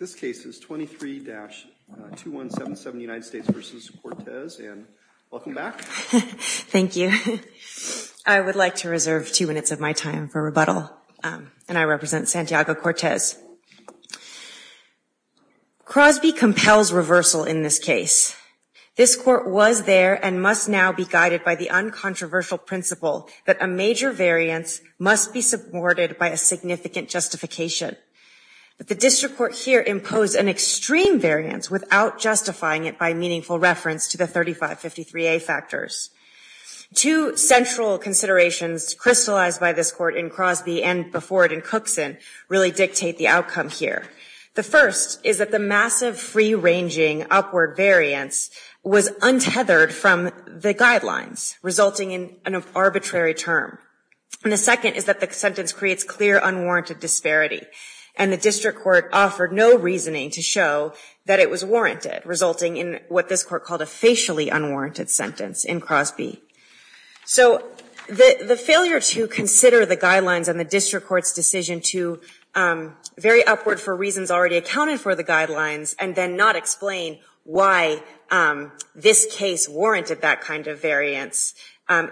and welcome back. Thank you. I would like to reserve two minutes of my time for rebuttal. And I represent Santiago Cortez. Crosby compels reversal in this case. This court was there and must now be guided by the uncontroversial principle that a major variance must be supported by a significant justification. But the district court here imposed an extreme variance without justifying it by meaningful reference to the 3553A factors. Two central considerations crystallized by this court in Crosby and before it in Cookson really dictate the outcome here. The first is that the massive free ranging upward variance was untethered from the guidelines resulting in an arbitrary term. And the second is that the sentence creates clear unwarranted disparity. And the district court offered no reasoning to show that it was warranted resulting in what this court called a facially unwarranted sentence in Crosby. So the failure to consider the guidelines and the district court's decision to vary upward for reasons already accounted for the guidelines and then not explain why this case warranted that kind of variance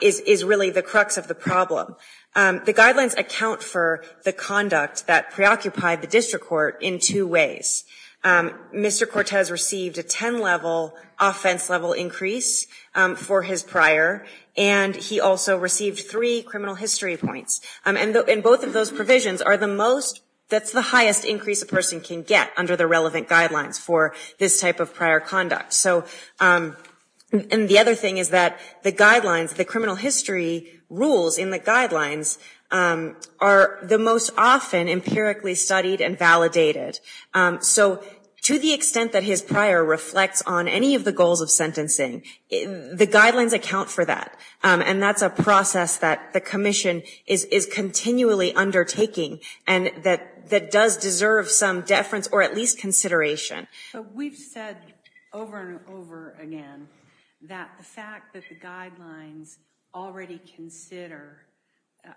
is really the crux of the problem. The guidelines account for the conduct that preoccupied the district court in two ways. Mr. Cortez received a ten level offense level increase for his prior and he also received three criminal history points. And both of those provisions are the most, that's the highest increase a person can get under the relevant guidelines for this type of prior conduct. So and the other thing is that the guidelines, the criminal history rules in the guidelines are the most often empirically studied and validated. So to the extent that his prior reflects on any of the goals of sentencing, the guidelines account for that. And that's a process that the commission is continually undertaking and that does deserve some deference or at least consideration. So we've said over and over again that the fact that the guidelines already consider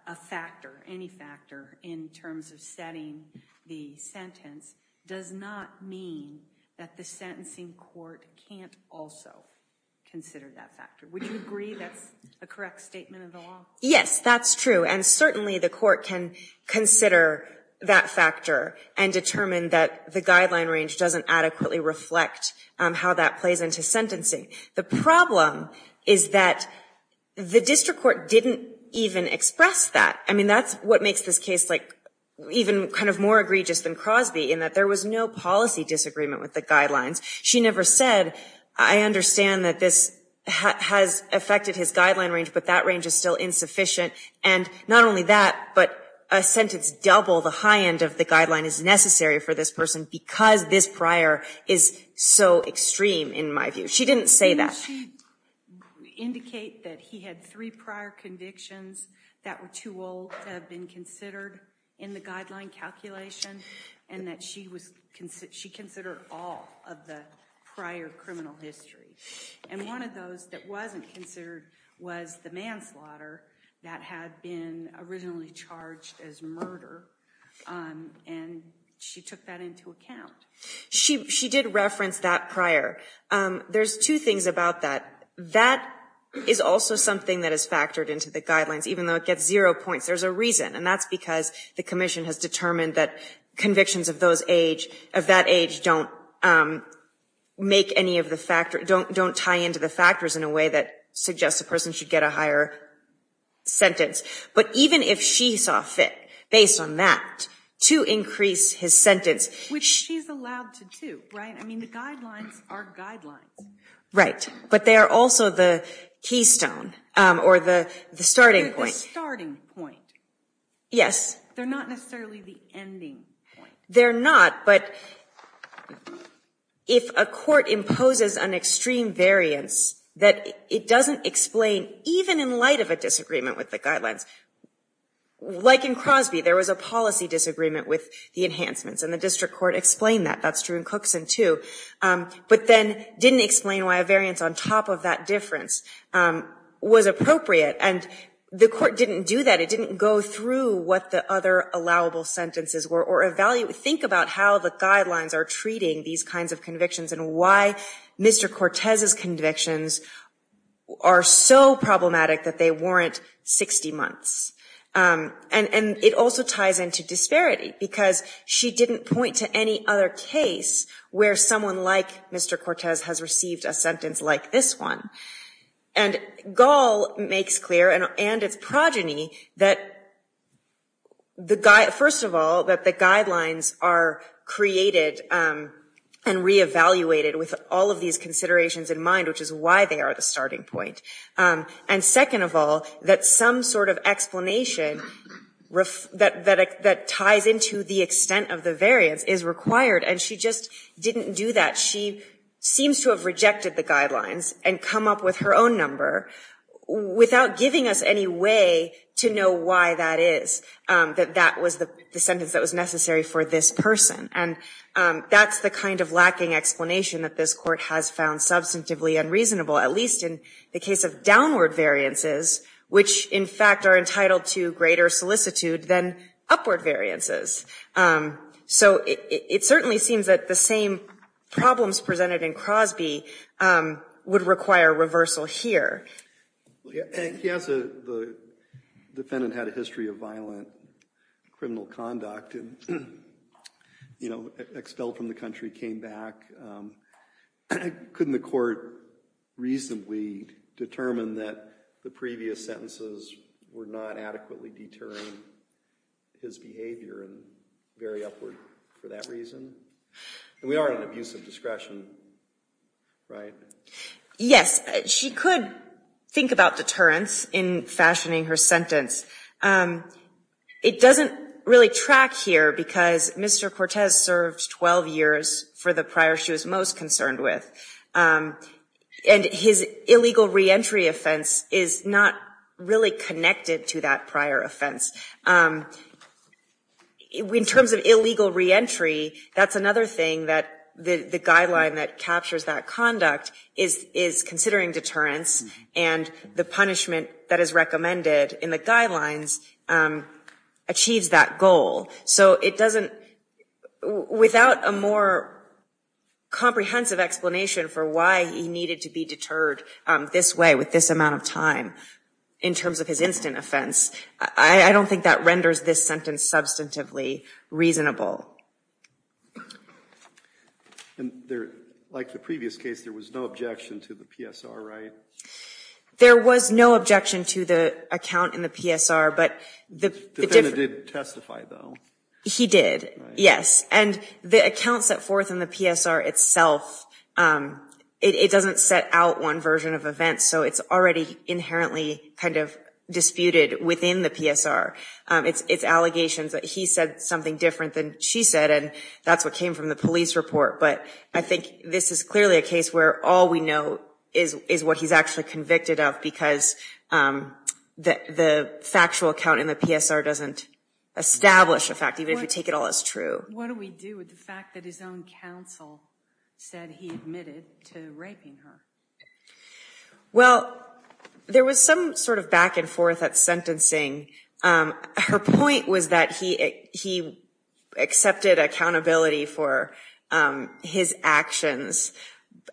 a factor, any factor in terms of setting the sentence does not mean that the sentencing court can't also consider that factor. Would you agree that's a correct statement of the law? Yes, that's true. And certainly the court can consider that factor and determine that the guideline range doesn't adequately reflect how that plays into sentencing. The problem is that the district court didn't even express that. I mean, that's what makes this case like even kind of more egregious than Crosby in that there was no policy disagreement with the guidelines. She never said, I understand that this has affected his guideline range but that range is still insufficient. And not only that, but a sentence double the high end of the guideline is necessary for this person because this prior is so extreme in my view. She didn't say that. Did she indicate that he had three prior convictions that were too old to have been considered in the guideline calculation and that she considered all of the prior criminal history? And one of those that wasn't considered was the manslaughter that had been originally charged as murder and she took that into account. She did reference that prior. There's two things about that. That is also something that is factored into the guidelines even though it gets zero points. There's a reason and that's because the commission has determined that convictions of that age don't make any of the factors, don't tie into the factors in a way that suggests a person should get a higher sentence. But even if she saw fit based on that to increase his sentence. Which she's allowed to do, right? I mean, the guidelines are guidelines. Right. But they are also the keystone or the starting point. Yes. They're not necessarily the ending point. They're not, but if a court imposes an extreme variance that it doesn't explain even in light of a disagreement with the guidelines. Like in Crosby, there was a policy disagreement with the enhancements and the district court explained that. That's true in Cookson too. But then didn't explain why a variance on top of that difference was appropriate and the court didn't do that. It didn't go through what the other allowable sentences were or evaluate, think about how the guidelines are treating these kinds of convictions and why Mr. Cortez's convictions are so problematic that they warrant 60 months. And it also ties into disparity because she didn't point to any other case where someone like Mr. Cortez has received a sentence like this one. And Gall makes clear, and its progeny, that first of all, that the guidelines are created and re-evaluated with all of these considerations in mind, which is why they are the starting point. And second of all, that some sort of explanation that ties into the extent of the variance is required and she just didn't do that. She seems to have rejected the guidelines and come up with her own number without giving us any way to know why that is, that that was the sentence that was necessary for this person. And that's the kind of lacking explanation that this court has found substantively unreasonable, at least in the case of downward variances, which in fact are entitled to greater solicitude than upward variances. So it certainly seems that the same problems presented in Crosby would require reversal here. He has a, the defendant had a history of violent criminal conduct and, you know, expelled from the country, came back. Couldn't the court reasonably determine that the previous sentences were not adequately deterring his behavior and very upward for that reason? And we are on abusive discretion, right? Yes. She could think about deterrence in fashioning her sentence. It doesn't really track here because Mr. Cortez served 12 years for the prior she was most concerned with. And his illegal reentry offense is not really connected to that prior offense. In terms of illegal reentry, that's another thing that the guideline that captures that conduct is, is considering deterrence and the punishment that is recommended in the guidelines achieves that goal. So it doesn't, without a more comprehensive explanation for why he needed to be deterred this way with this amount of time in terms of his instant offense, I don't think that renders this sentence substantively reasonable. And there, like the previous case, there was no objection to the PSR, right? There was no objection to the account in the PSR, but the defendant did testify, though. He did, yes. And the account set forth in the PSR itself, it doesn't set out one version of events, so it's already inherently kind of disputed within the PSR. It's allegations that he said something different than she said, and that's what came from the police report. But I think this is clearly a case where all we know is what he's actually convicted of because the factual account in the PSR doesn't establish a fact, even if you take it all as true. What do we do with the fact that his own counsel said he admitted to raping her? Well, there was some sort of back and forth at sentencing. Her point was that he accepted accountability for his actions,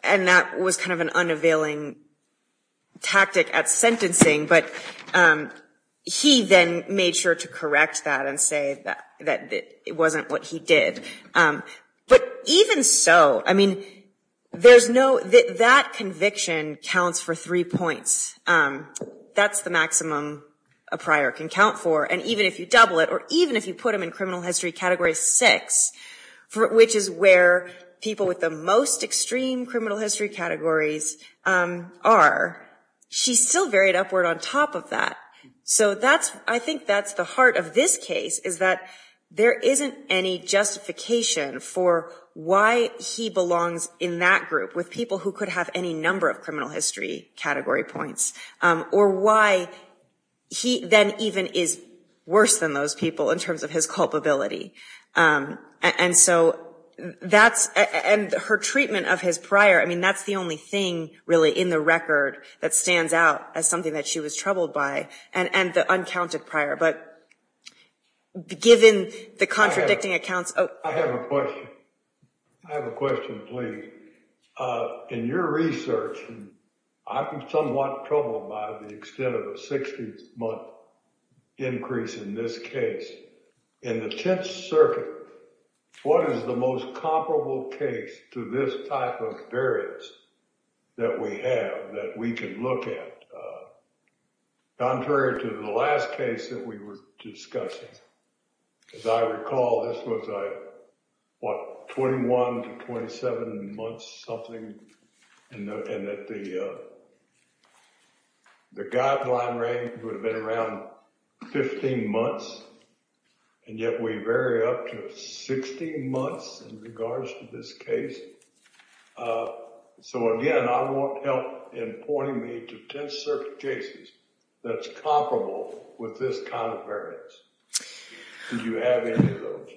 and that was kind of an unavailing tactic at sentencing, but he then made sure to correct that and say that it wasn't what he did. But even so, I mean, that conviction counts for three points. That's the maximum a prior can count for. And even if you double it, or even if you put him in criminal history category six, which is where people with the most extreme criminal history categories are, she's still carried upward on top of that. So I think that's the heart of this case, is that there isn't any justification for why he belongs in that group with people who could have any number of criminal history category points, or why he then even is worse than those people in terms of his culpability. And her treatment of his prior, I mean, that's the only thing really in the record that stands out as something that she was troubled by, and the uncounted prior. But given the contradicting accounts... I have a question. I have a question, please. In your research, I've been somewhat troubled by the extent of a 60-month increase in this case. In the Tenth Circuit, what is the most that we have that we can look at, contrary to the last case that we were discussing? As I recall, this was a, what, 21 to 27-month-something, and that the guideline range would have been around 15 months, and yet we vary up to 16 months in regards to this case. So again, I want help in pointing me to Tenth Circuit cases that's comparable with this kind of variance. Do you have any of those?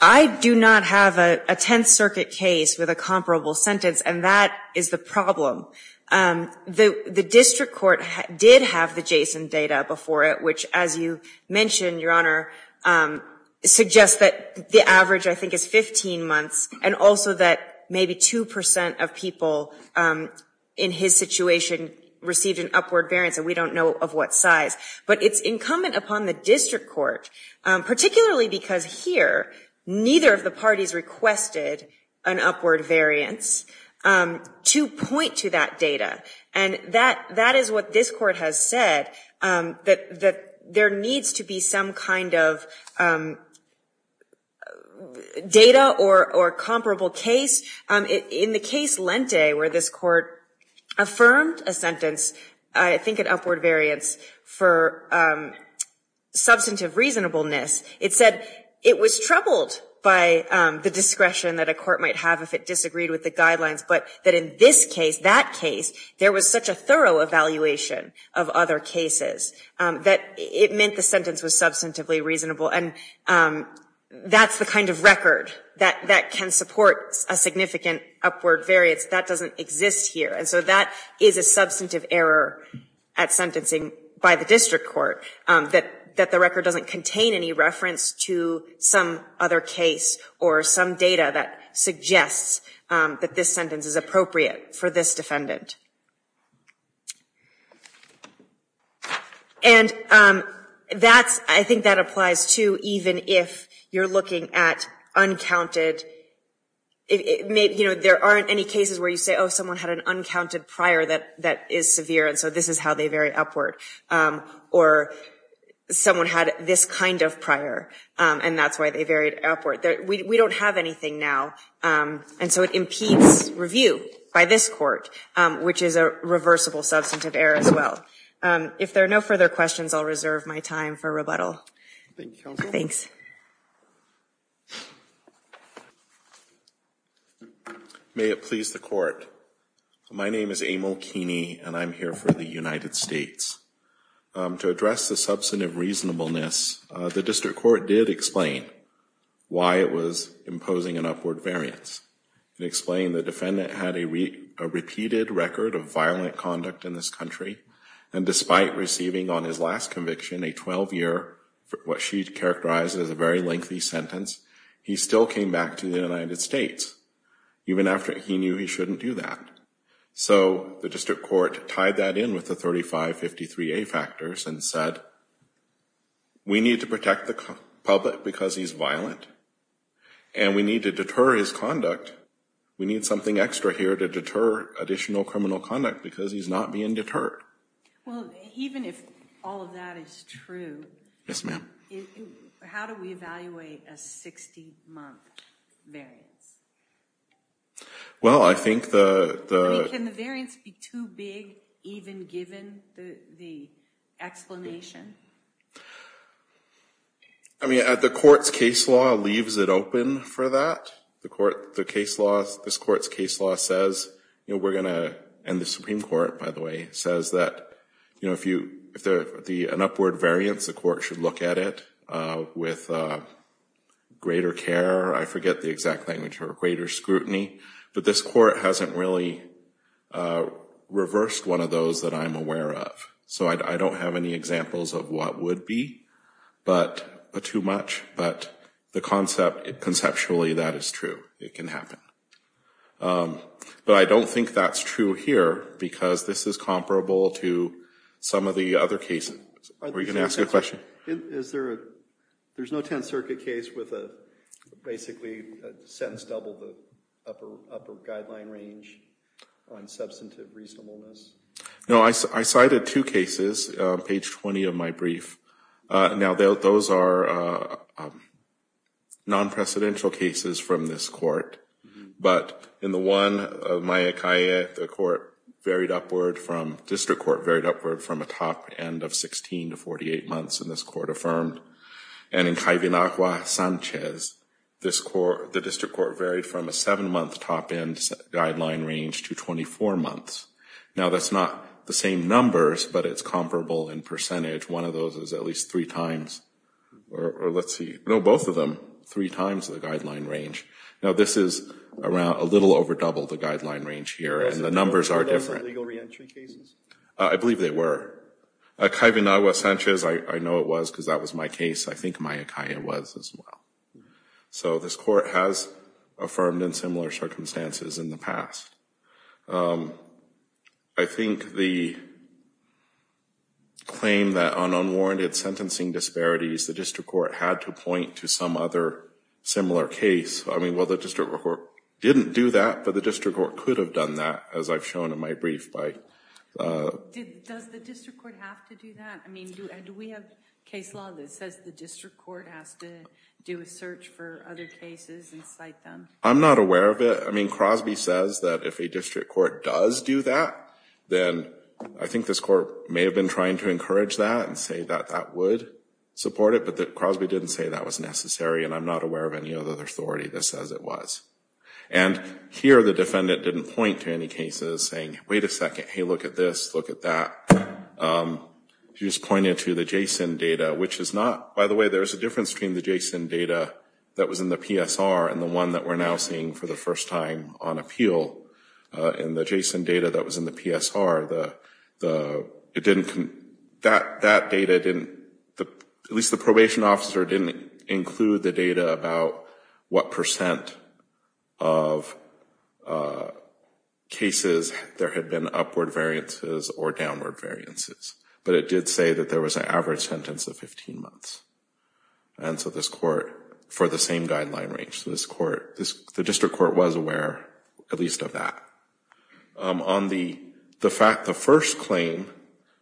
I do not have a Tenth Circuit case with a comparable sentence, and that is the problem. The district court did have the JSON data before it, which, as you mentioned, Your Honor, suggests that the average, I think, is 15 months, and also that maybe 2% of people in his situation received an upward variance, and we don't know of what size. But it's incumbent upon the district court, particularly because here, neither of the parties requested an upward variance, to point to that data. And that is what this court has said, that there needs to be some kind of data or comparable case. In the case Lente, where this court affirmed a sentence, I think an upward variance, for substantive reasonableness, it said it was troubled by the discretion that a court might have if it disagreed with the guidelines, but that in this case, that case, there was such a thorough evaluation of other cases, that it meant the sentence was substantively reasonable. And that's the kind of record that can support a significant upward variance. That doesn't exist here. And so that is a substantive error at sentencing by the district court, that the record doesn't contain any reference to some other case or some data that suggests that this sentence is appropriate for this defendant. And I think that applies, too, even if you're looking at uncounted, you know, there aren't any cases where you say, oh, someone had an uncounted prior that is severe, and so this is how they vary upward. Or someone had this kind of prior, and that's why they varied upward. We don't have anything now. And so it impedes review by this court, which is a reversible substantive error as well. If there are no further questions, I'll reserve my time for rebuttal. Thank you, counsel. Thanks. May it please the court. My name is Emil Keeney, and I'm here for the United States. To address the substantive reasonableness, the district court did explain why it was imposing an upward variance. It explained the defendant had a repeated record of violent conduct in this country, and despite receiving on his last conviction a 12-year, what she characterized as a very lengthy sentence, he still came back to the United States, even after he knew he shouldn't do that. So the district court tied that in with the 3553A factors and said, we need to protect the public because he's violent, and we need to deter his conduct. We need something extra here to deter additional criminal conduct because he's not being deterred. Well, even if all of that is true, how do we evaluate a 60-month variance? Well, I think the... I mean, can the variance be too big, even given the explanation? I mean, the court's case law leaves it open for that. The court, the case law, this court's case law says, you know, we're going to, and the Supreme Court, by the way, says that, you know, if there's an upward variance, the court should look at it with greater care. I forget the exact language here, greater scrutiny. But this court hasn't really reversed one of those that I'm aware of. So I don't have any examples of what would be too much, but the concept, conceptually, that is true. It can happen. But I don't think that's true here because this is comparable to some of the other cases. Are you going to ask a question? Is there a, there's no 10th Circuit case with a, basically, a sentence double the upper guideline range on substantive reasonableness? No, I cited two cases, page 20 of my brief. Now, those are non-presidential cases from this court, but in the one, Myakai, the court varied upward from, district court varied upward from a top end of 16 to 48 months in this court affirmed. And in Kaivinakwa Sanchez, this court, the district court varied from a 7-month top end guideline range to 24 months. Now, that's not the same numbers, but it's comparable in percentage. One of those is at least three times, or let's see, no, both of them, three times the guideline range. Now, this is around, a little over double the guideline range here, and the numbers are different. I believe they were. Kaivinakwa Sanchez, I know it was because that was my case. I think Myakai was as well. So, this court has affirmed in similar circumstances in the past. I think the claim that on unwarranted sentencing disparities, the district court had to point to some other similar case. I mean, well, the district court didn't do that, but the district court could have done that, as I've shown in my brief. Does the district court have to do that? I mean, do we have case law that says the district court has to do a search for other cases and cite them? I'm not aware of it. I mean, Crosby says that if a district court does do that, then I think this court may have been trying to encourage that and say that that would support it, but Crosby didn't say that was necessary, and I'm not aware of any other authority that And here the defendant didn't point to any cases saying, wait a second, hey, look at this, look at that. She just pointed to the JSON data, which is not, by the way, there is a difference between the JSON data that was in the PSR and the one that we're now seeing for the first time on appeal. In the JSON data that was in the PSR, it didn't, that data didn't, at least the probation officer didn't include the data about what percent of cases there had been upward variances or downward variances, but it did say that there was an average sentence of 15 months. And so this court, for the same guideline range, so this court, the district court was aware at least of that. On the fact, the first claim,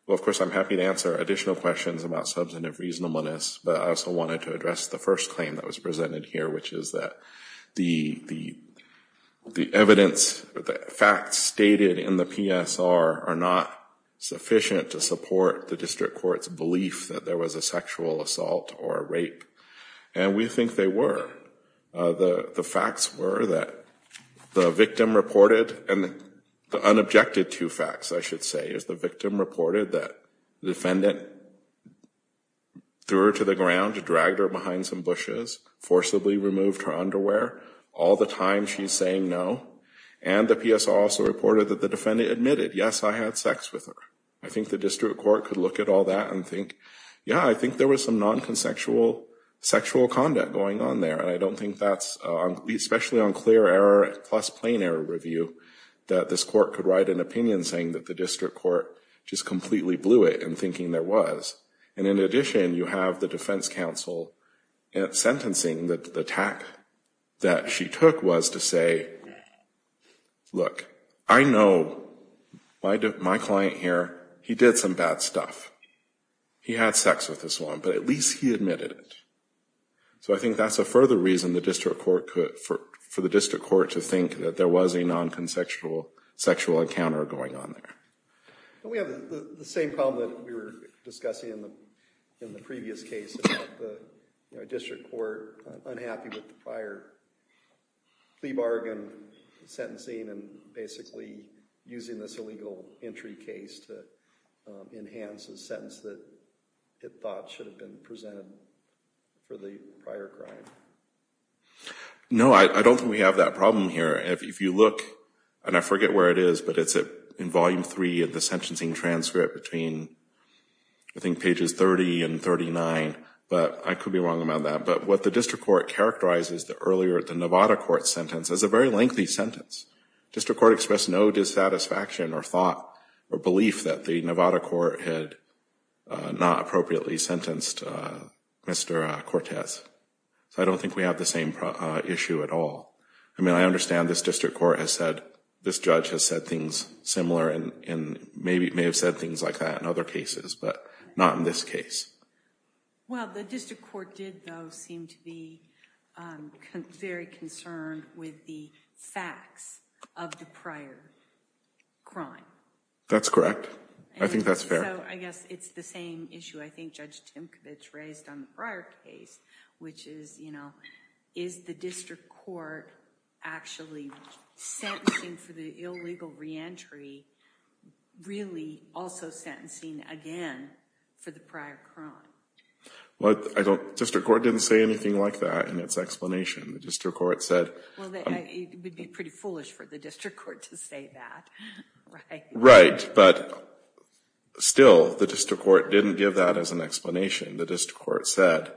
well, of course, I'm happy to answer additional questions about substantive reasonableness, but I also wanted to address the first claim that was presented here, which is that the evidence, the facts stated in the PSR are not sufficient to support the district court's belief that there was a sexual assault or rape. And we think they were. The facts were that the victim reported, and the unobjected to facts, I should say, is the victim reported that the defendant threw her to the ground, dragged her behind some bushes, forcibly removed her underwear all the time she's saying no, and the PSR also reported that the defendant admitted, yes, I had sex with her. I think the district court could look at all that and think, yeah, I think there was some non-consexual sexual conduct going on there, and I don't think that's, especially on clear error plus plain error review, that this court could write an opinion saying that the district court just completely blew it in thinking there was. And in addition, you have the defense counsel sentencing the attack that she took was to say, look, I know my client here, he did some bad stuff. He had sex with this woman, but at least he admitted it. So I think that's a further reason for the district court to think that there was a non-consexual sexual encounter going on there. We have the same problem that we were discussing in the previous case about the district court unhappy with the prior plea bargain sentencing and basically using this illegal entry case to enhance a sentence that it thought should have been presented for the prior crime. No, I don't think we have that problem here. If you look, and I forget where it is, but it's in Volume 3 of the sentencing transcript between, I think, pages 30 and 39, but I could be wrong about that, but what the district court characterizes the earlier Nevada court sentence as a very lengthy sentence. The district court expressed no dissatisfaction or thought or belief that the Nevada court had not appropriately sentenced Mr. Cortez. So I don't think we have the same issue at all. I mean, I understand this district court has said, this judge has said things similar and maybe may have said things like that in other cases, but not in this case. Well, the district court did, though, seem to be very concerned with the facts of the prior crime. That's correct. I think that's fair. So I guess it's the same issue I think Judge Timkovich raised on the prior case, which is, you know, is the district court actually sentencing for the illegal reentry really also sentencing again for the prior crime? Well, I don't, the district court didn't say anything like that in its explanation. The district court said... Well, it would be pretty foolish for the district court to say that, right? Right. But still, the district court didn't give that as an explanation. The district court said,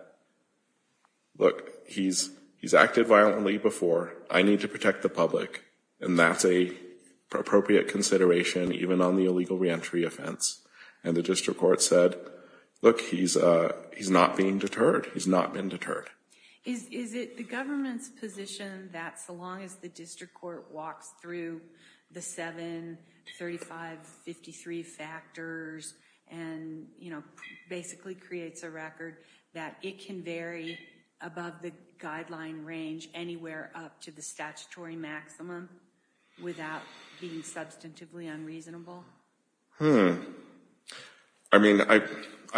look, he's acted violently before. I need to protect the public. And that's an appropriate consideration even on the illegal reentry offense. And the district court said, look, he's not being deterred. He's not been deterred. Is it the government's position that so long as the district court walks through the 7353 factors and, you know, basically creates a record, that it can vary above the guideline range anywhere up to the statutory maximum without being substantively unreasonable? Hmm. I mean, I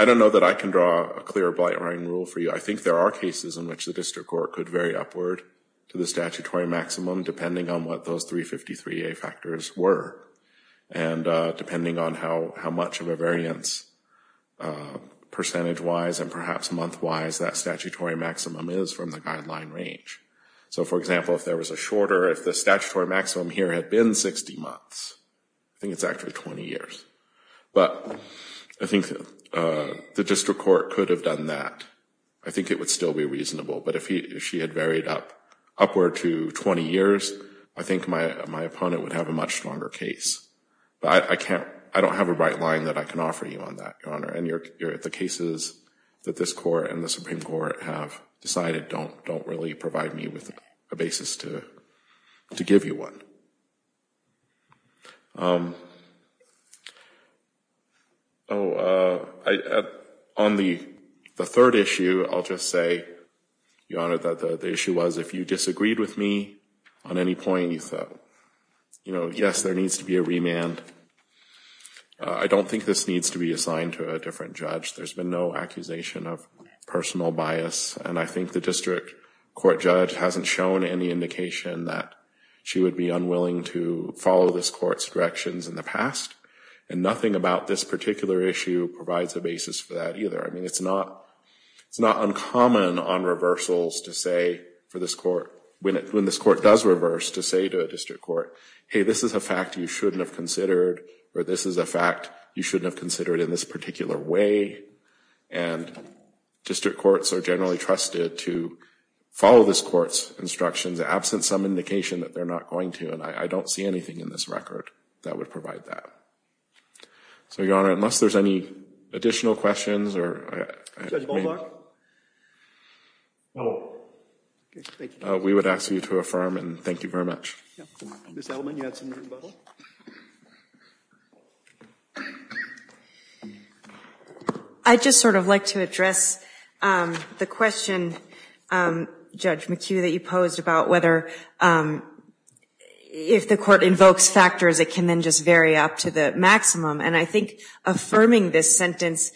don't know that I can draw a clear blight line rule for you. I think there are cases in which the district court could vary upward to the statutory maximum depending on what those 353A factors were. And depending on how much of a variance percentage-wise and perhaps month-wise that statutory maximum is from the guideline range. So, for example, if there was a shorter, if the statutory maximum here had been 60 months, I think it's actually 20 years. But I think the district court could have done that. I think it would still be reasonable. But if she had varied upward to 20 years, I think my opponent would have a much stronger case. But I can't, I don't have a right line that I can offer you on that, Your Honor. And the cases that this court and the Supreme Court have decided don't really provide me with a basis to give you one. Oh, on the third issue, I'll just say, Your Honor, that the issue was if you disagreed with me on any point, you thought, you know, yes, there needs to be a remand. I don't think this needs to be assigned to a different judge. There's been no accusation of personal bias. And I think the district court judge hasn't shown any indication that she would be unwilling to follow this court's directions in the past. And nothing about this particular issue provides a basis for that either. I mean, it's not uncommon on reversals to say for this court, when this court does reverse, to say to a district court, hey, this is a fact you shouldn't have considered, or this is a fact you shouldn't have considered in this particular way. And district courts are generally trusted to follow this court's instructions absent some indication that they're not going to. And I don't see anything in this record that would provide that. So, Your Honor, unless there's any additional questions or... Judge Bolzar? No. Okay, thank you. We would ask you to affirm, and thank you very much. Ms. Elliman, you had something in the bottle? I'd just sort of like to address the question, Judge McHugh, that you posed about whether if the court invokes factors, it can then just vary up to the maximum. And I think affirming this sentence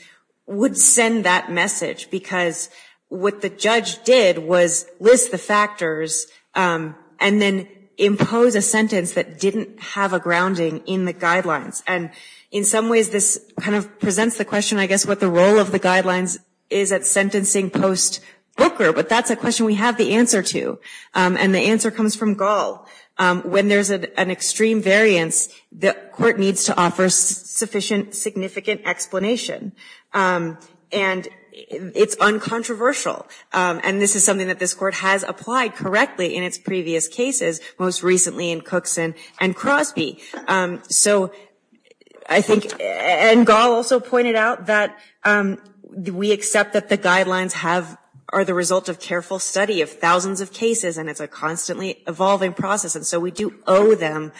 would send that message, because what the judge did was list the factors and then impose a sentence that didn't have a grounding in the guidelines. And in some ways, this kind of presents the question, I guess, what the role of the guidelines is at sentencing post-Booker. But that's a question we have the answer to. And the answer comes from Gall. When there's an extreme variance, the court needs to offer sufficient significant explanation. And it's uncontroversial. And this is something that this court has applied correctly in its previous cases, most recently in Cookson and Crosby. And Gall also pointed out that we accept that the guidelines are the result of careful study of thousands of cases, and it's a constantly evolving process. And so we do owe them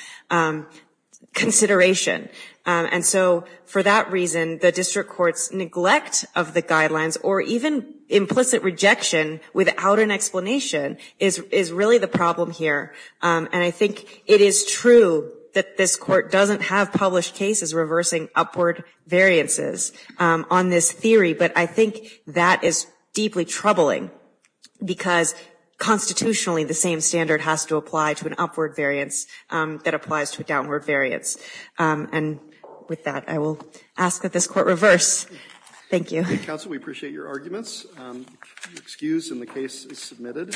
consideration. And so for that reason, the district courts neglect of the problem here. And I think it is true that this court doesn't have published cases reversing upward variances on this theory. But I think that is deeply troubling, because constitutionally, the same standard has to apply to an upward variance that applies to a downward variance. And with that, I will ask that this court reverse. Thank you. Council, we appreciate your arguments. Excused, and the case is submitted.